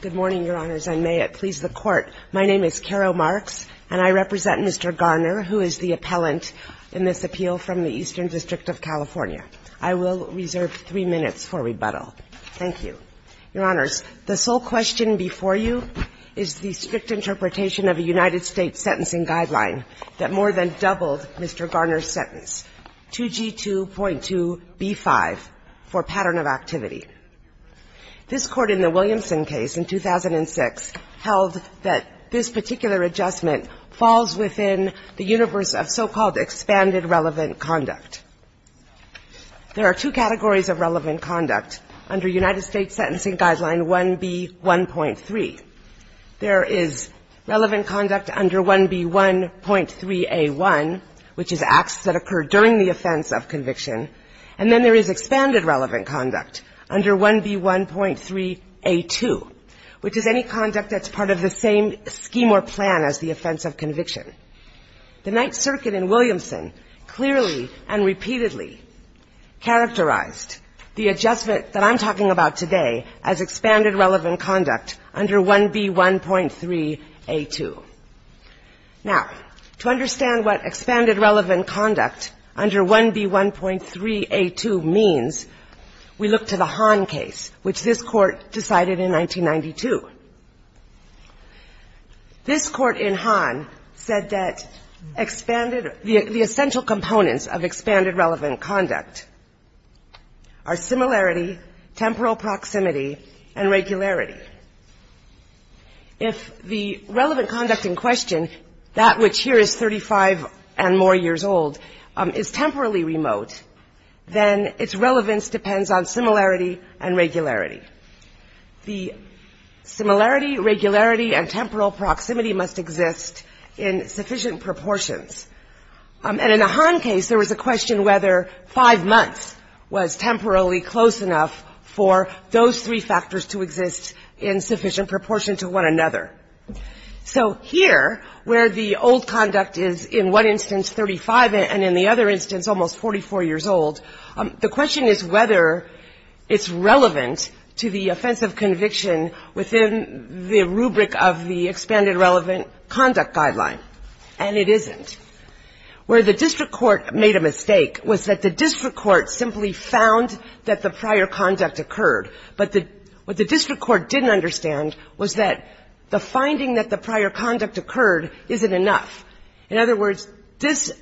Good morning, Your Honors. I may please the Court. My name is Carol Marks, and I represent Mr. Garner, who is the appellant in this appeal from the Eastern District of California. I will reserve three minutes for rebuttal. Thank you. Your Honors, the sole question before you is the strict interpretation of a United States sentencing guideline that more than doubled Mr. Garner's sentence, 2G2.2B5, for pattern of activity. This Court in the Williamson case in 2006 held that this particular adjustment falls within the universe of so-called expanded relevant conduct. There are two categories of relevant conduct under United States Sentencing Guideline 1B1.3. There is relevant conduct under 1B1.3A1, which is acts that occur during the offense of conviction, and then there is expanded relevant conduct under 1B1.3A2, which is any conduct that's part of the same scheme or plan as the offense of conviction. The Ninth Circuit in Williamson clearly and repeatedly characterized the adjustment that I'm talking about today as expanded relevant conduct under 1B1.3A2. Now, to understand what expanded relevant conduct under 1B1.3A2 means, we look to the Hahn case, which this Court decided in 1992. This Court in Hahn said that expanded the essential components of expanded relevant conduct are similarity, temporal proximity, and regularity. If the relevant conduct in question, that which here is 35 and more years old, is temporally remote, then its relevance depends on similarity and regularity. The similarity, regularity, and temporal proximity must exist in sufficient proportions. And in the Hahn case, there was a question whether five months was temporarily close enough for those three factors to exist in sufficient proportion to one another. So here, where the old conduct is in one instance 35 and in the other instance almost 44 years old, the question is whether it's relevant to the offense of conviction within the rubric of the expanded relevant conduct guideline, and it isn't. Where the district court made a mistake was that the district court simply found that the prior conduct occurred, but what the district court didn't understand was that the finding that the prior conduct occurred isn't enough. In other words, this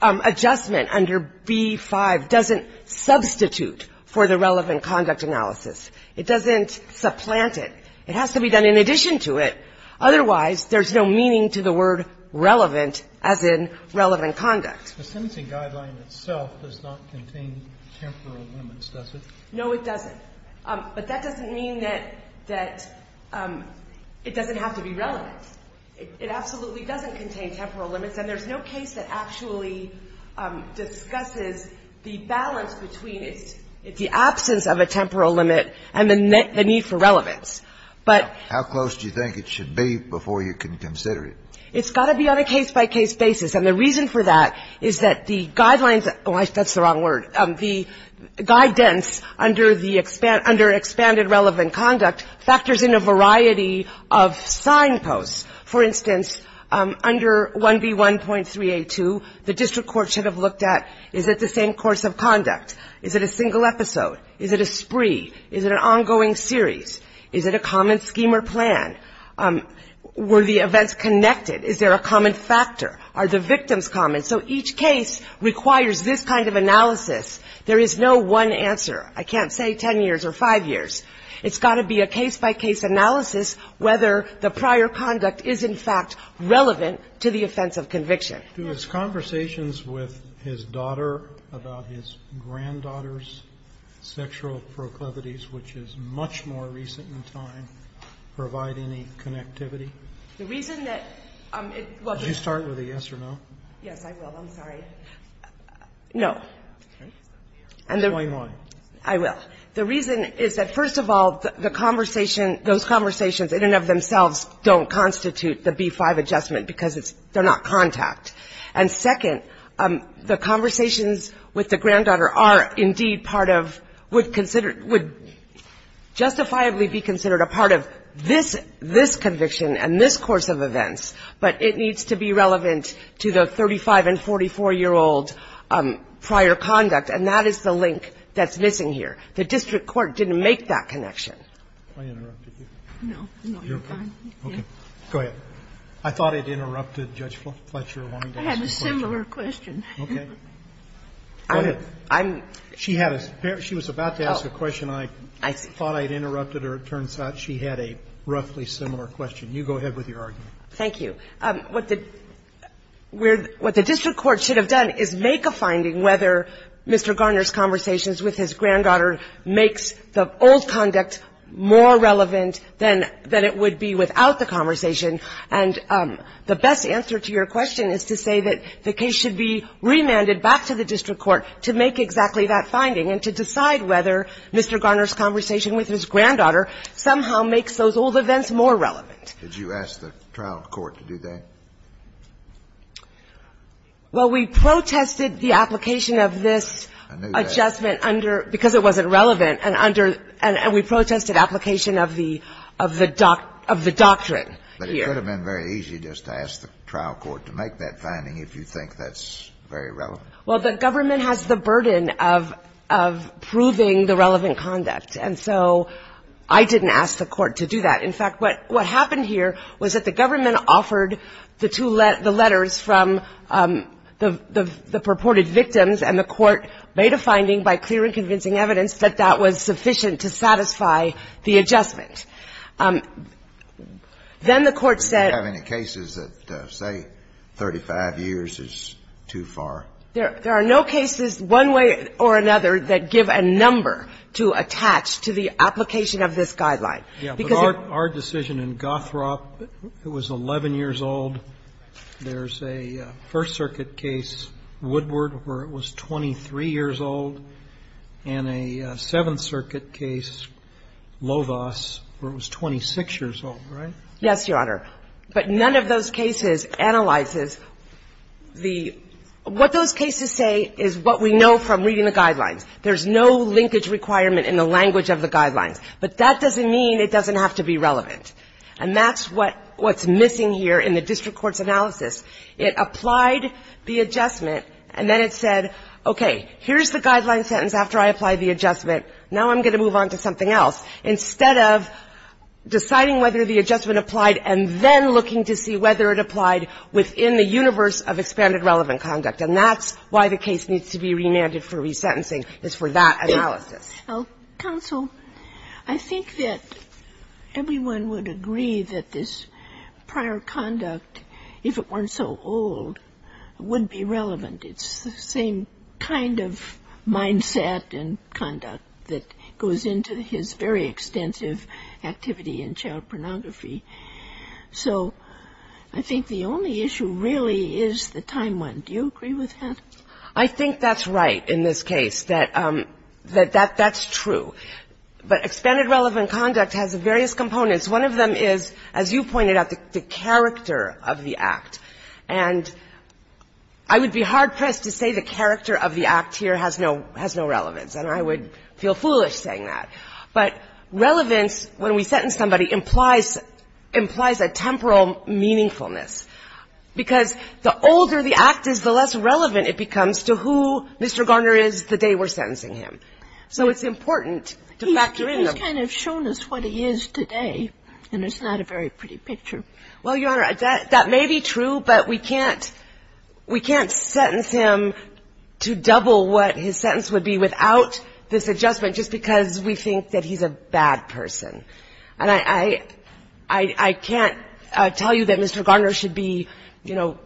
adjustment under B-5 doesn't substitute for the relevant conduct analysis. It doesn't supplant it. It has to be done in addition to it. Otherwise, there's no meaning to the word relevant as in relevant conduct. The sentencing guideline itself does not contain temporal limits, does it? No, it doesn't. But that doesn't mean that it doesn't have to be relevant. It absolutely doesn't contain temporal limits, and there's no case that actually discusses the balance between the absence of a temporal limit and the need for relevance. But how close do you think it should be before you can consider it? It's got to be on a case-by-case basis. And the reason for that is that the guidelines – oh, that's the wrong word. The guidance under expanded relevant conduct factors in a variety of signposts. For instance, under 1B1.3A2, the district court should have looked at is it the same course of conduct? Is it a single episode? Is it a spree? Is it an ongoing series? Is it a common scheme or plan? Were the events connected? Is there a common factor? Are the victims common? So each case requires this kind of analysis. There is no one answer. I can't say 10 years or 5 years. It's got to be a case-by-case analysis whether the prior conduct is in fact relevant to the offense of conviction. Do his conversations with his daughter about his granddaughter's sexual proclivities, which is much more recent in time, provide any connectivity? The reason that it – well, just – Yes, I will. I'm sorry. No. Okay. Explain why. I will. The reason is that, first of all, the conversation – those conversations in and of themselves don't constitute the B-5 adjustment because it's – they're not contact. And second, the conversations with the granddaughter are indeed part of – would consider – would justifiably be considered a part of this conviction and this course of events, but it needs to be relevant to the 35- and 44-year-old prior conduct, and that is the link that's missing here. The district court didn't make that connection. I interrupted you. No. No, you're fine. You're okay? Okay. I thought I'd interrupted Judge Fletcher. I wanted to ask a question. I had a similar question. Okay. Go ahead. I'm – She had a – she was about to ask a question. I thought I'd interrupted her. It turns out she had a roughly similar question. You go ahead with your argument. Thank you. What the district court should have done is make a finding whether Mr. Garner's conversations with his granddaughter makes the old conduct more relevant than it would be without the conversation. And the best answer to your question is to say that the case should be remanded back to the district court to make exactly that finding and to decide whether Mr. Garner's conversation with his granddaughter somehow makes those old events more relevant. Did you ask the trial court to do that? Well, we protested the application of this adjustment under – because it wasn't relevant and under – and we protested application of the – of the – of the doctrine here. But it could have been very easy just to ask the trial court to make that finding if you think that's very relevant. Well, the government has the burden of – of proving the relevant conduct. And so I didn't ask the court to do that. In fact, what – what happened here was that the government offered the two – the letters from the purported victims and the court made a finding by clear and convincing evidence that that was sufficient to satisfy the adjustment. Then the court said – Do you have any cases that say 35 years is too far? There are no cases one way or another that give a number to attach to the application of this guideline. Yeah. But our – our decision in Gothrop, it was 11 years old. There's a First Circuit case, Woodward, where it was 23 years old, and a Seventh Circuit case, Lovas, where it was 26 years old, right? Yes, Your Honor. But none of those cases analyzes the – what those cases say is what we know from reading the guidelines. There's no linkage requirement in the language of the guidelines. But that doesn't mean it doesn't have to be relevant. And that's what – what's missing here in the district court's analysis. It applied the adjustment, and then it said, okay, here's the guideline sentence after I apply the adjustment. Now I'm going to move on to something else, instead of deciding whether the adjustment applied and then looking to see whether it applied within the universe of expanded relevant conduct. And that's why the case needs to be remanded for resentencing, is for that analysis. Counsel, I think that everyone would agree that this prior conduct, if it weren't so old, would be relevant. It's the same kind of mindset and conduct that goes into his very extensive activity in child pornography. So I think the only issue really is the time one. Do you agree with that? I think that's right in this case, that that's true. But expanded relevant conduct has various components. One of them is, as you pointed out, the character of the act. And I would be hard-pressed to say the character of the act here has no relevance, and I would feel foolish saying that. But relevance, when we sentence somebody, implies a temporal meaningfulness. Because the older the act is, the less relevant it becomes to who Mr. Garner is the day we're sentencing him. So it's important to factor in them. He's kind of shown us what he is today, and it's not a very pretty picture. Well, Your Honor, that may be true, but we can't sentence him to double what his sentence would be without this adjustment, just because we think that he's a bad person. And I can't tell you that Mr. Garner should be, you know,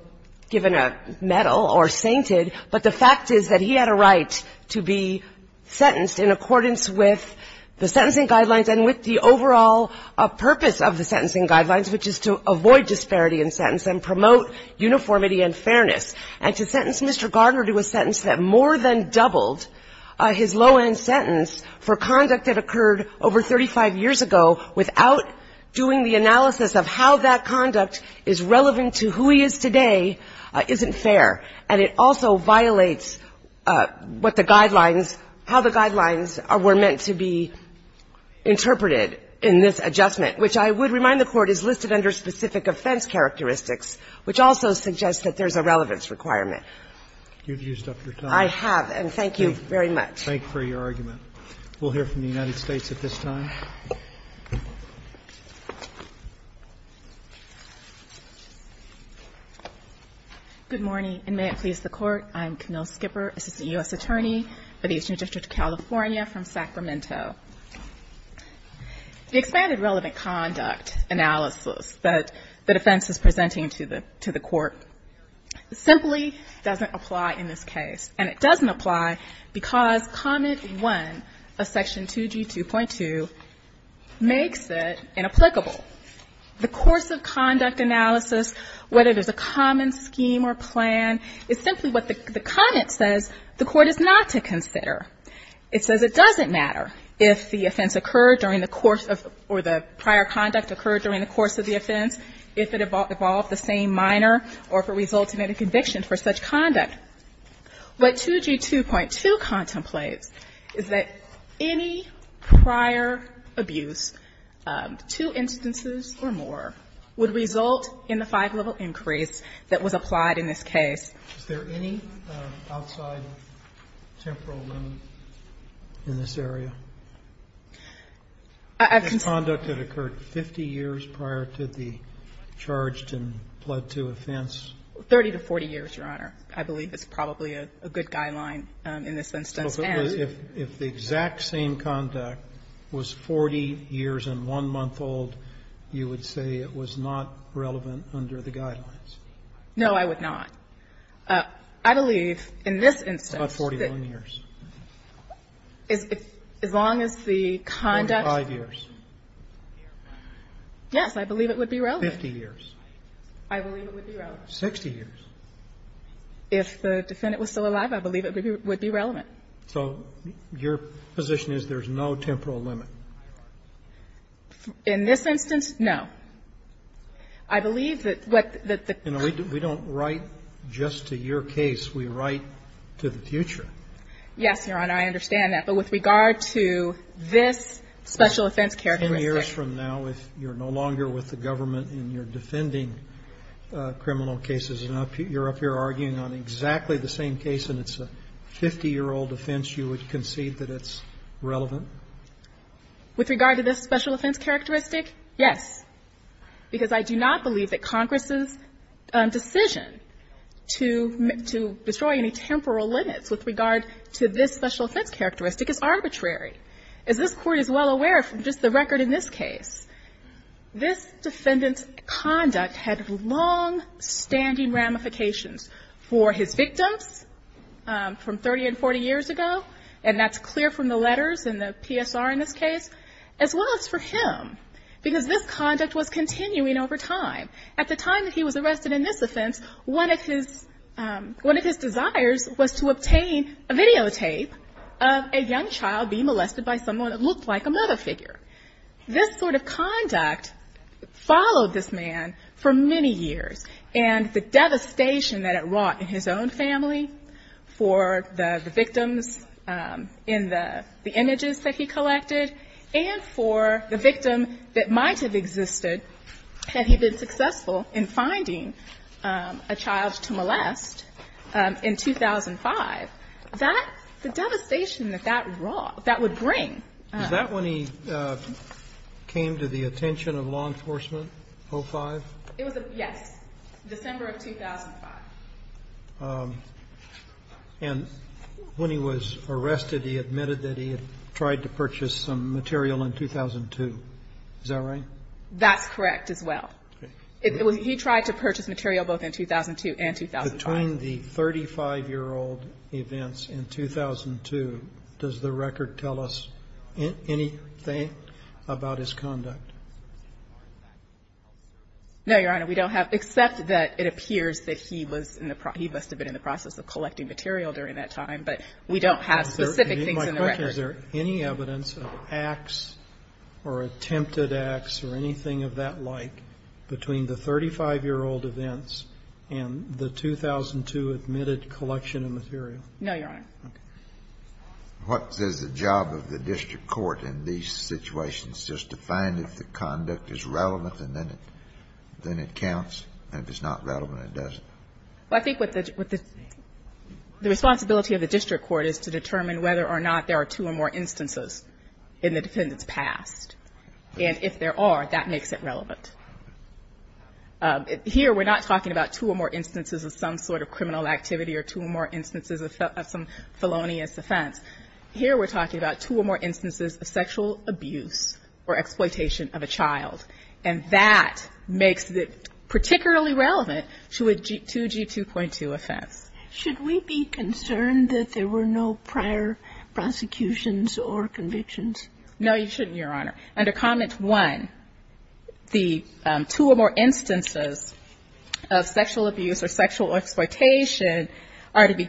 given a medal or sainted, but the fact is that he had a right to be sentenced in accordance with the sentencing guidelines and with the overall purpose of the sentencing guidelines, which is to avoid disparity in sentence and promote uniformity and fairness. And to sentence Mr. Garner to a sentence that more than doubled his low-end sentence for conduct that occurred over 35 years ago without doing the analysis of how that conduct is relevant to who he is today isn't fair. And it also violates what the guidelines – how the guidelines were meant to be interpreted in this adjustment, which I would remind the Court is listed under specific offense characteristics, which also suggests that there's a relevance requirement. You've used up your time. I have, and thank you very much. Thank you for your argument. We'll hear from the United States at this time. Good morning, and may it please the Court. I'm Camille Skipper, Assistant U.S. Attorney for the Eastern District of California from Sacramento. The expanded relevant conduct analysis that the defense is presenting to the Court simply doesn't apply in this case. And it doesn't apply because Comment 1 of Section 2G2.2 makes it inapplicable. The course of conduct analysis, whether there's a common scheme or plan, is simply what the comment says the Court is not to consider. It says it doesn't matter if the offense occurred during the course of – or the prior conduct occurred during the course of the offense, if it involved the same minor or if it resulted in a conviction for such conduct. What 2G2.2 contemplates is that any prior abuse, two instances or more, would result in the five-level increase that was applied in this case. Is there any outside temporal limit in this area? I've considered – This conduct had occurred 50 years prior to the charged and pled to offense? 30 to 40 years, Your Honor. I believe it's probably a good guideline in this instance. And – If the exact same conduct was 40 years and one month old, you would say it was not relevant under the guidelines? No, I would not. I believe in this instance that – About 41 years. As long as the conduct – 45 years. Yes, I believe it would be relevant. 50 years. I believe it would be relevant. 60 years. If the defendant was still alive, I believe it would be relevant. So your position is there's no temporal limit? In this instance, no. I believe that what the – We don't write just to your case. We write to the future. Yes, Your Honor, I understand that. But with regard to this special offense characteristic – 10 years from now, if you're no longer with the government and you're defending criminal cases and you're up here arguing on exactly the same case and it's a 50-year-old offense, you would concede that it's relevant? With regard to this special offense characteristic, yes. Because I do not believe that Congress's decision to destroy any temporal limits with regard to this special offense characteristic is arbitrary. As this Court is well aware from just the record in this case, this defendant's conduct had longstanding ramifications for his victims from 30 and 40 years ago, and that's clear from the letters and the PSR in this case, as well as for him. Because this conduct was continuing over time. At the time that he was arrested in this offense, one of his – a videotape of a young child being molested by someone that looked like a mother figure. This sort of conduct followed this man for many years. And the devastation that it wrought in his own family, for the victims in the images that he collected, and for the victim that might have existed had he been successful in finding a child to molest in 2005, that – the devastation that that wrought, that would bring. Is that when he came to the attention of law enforcement, 05? It was a – yes. December of 2005. And when he was arrested, he admitted that he had tried to purchase some material Is that right? That's correct, as well. He tried to purchase material both in 2002 and 2005. Between the 35-year-old events in 2002, does the record tell us anything about his conduct? No, Your Honor, we don't have – except that it appears that he was in the – he must have been in the process of collecting material during that time, but we don't have specific things in the record. Is there any evidence of acts or attempted acts or anything of that like between the 35-year-old events and the 2002 admitted collection of material? No, Your Honor. What is the job of the district court in these situations, just to find if the conduct is relevant and then it counts, and if it's not relevant, it doesn't? Well, I think what the – the responsibility of the district court is to determine whether or not there are two or more instances in the defendant's past. And if there are, that makes it relevant. Here, we're not talking about two or more instances of some sort of criminal activity or two or more instances of some felonious offense. Here, we're talking about two or more instances of sexual abuse or exploitation of a child, and that makes it particularly relevant to a 2G2.2 offense. Should we be concerned that there were no prior prosecutions or convictions? No, you shouldn't, Your Honor. Under Comment 1, the two or more instances of sexual abuse or sexual exploitation are to be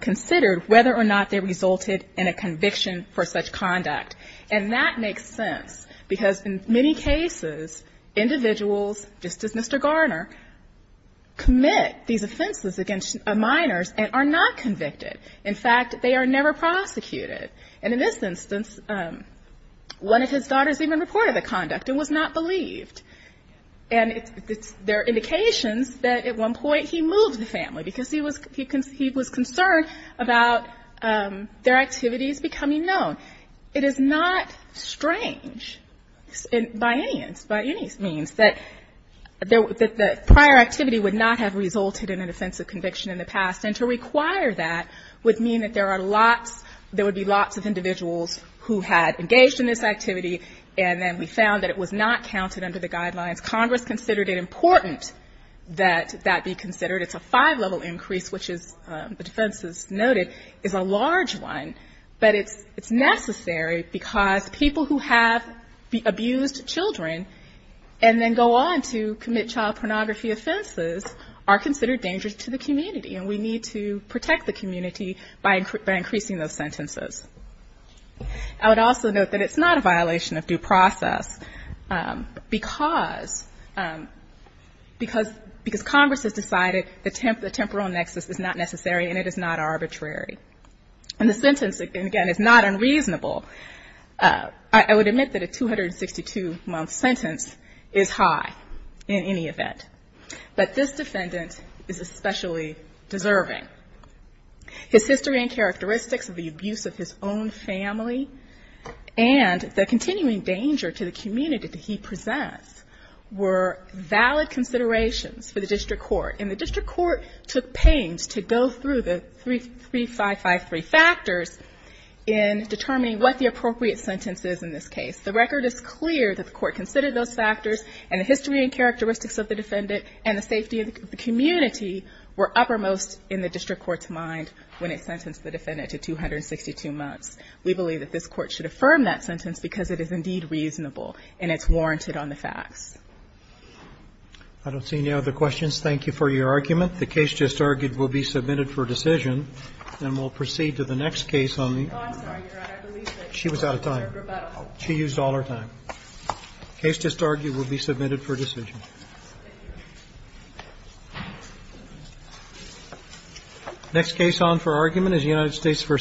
considered whether or not they resulted in a conviction for such conduct. And that makes sense because in many cases, individuals, just as Mr. Garner, commit these offenses against minors and are not convicted. In fact, they are never prosecuted. And in this instance, one of his daughters even reported the conduct and was not believed. And there are indications that at one point he moved the family because he was concerned about their activities becoming known. It is not strange by any means that the prior activity would not have resulted in an offensive conviction in the past, and to require that would mean that there would be lots of individuals who had engaged in this activity, and then we found that it was not counted under the guidelines. Congress considered it important that that be considered. It's a five-level increase, which, as the defense has noted, is a large one. But it's necessary because people who have abused children and then go on to commit child pornography offenses are considered dangerous to the community. And we need to protect the community by increasing those sentences. I would also note that it's not a violation of due process because Congress has decided the temporal nexus is not necessary and it is not arbitrary. And the sentence, again, is not unreasonable. I would admit that a 262-month sentence is high in any event. But this defendant is especially deserving. His history and characteristics of the abuse of his own family and the continuing danger to the community that he presents were valid considerations for the district court. And the district court took pains to go through the 3553 factors in determining what the appropriate sentence is in this case. The record is clear that the court considered those factors, and the history and the safety of the community were uppermost in the district court's mind when it sentenced the defendant to 262 months. We believe that this Court should affirm that sentence because it is indeed reasonable and it's warranted on the facts. Roberts. I don't see any other questions. Thank you for your argument. The case just argued will be submitted for decision, and we'll proceed to the next case on the other side. Oh, I'm sorry, Your Honor. I believe that she was out of time. She used all her time. The case just argued will be submitted for decision. Thank you, Your Honor. Next case on for argument is United States v. Byer.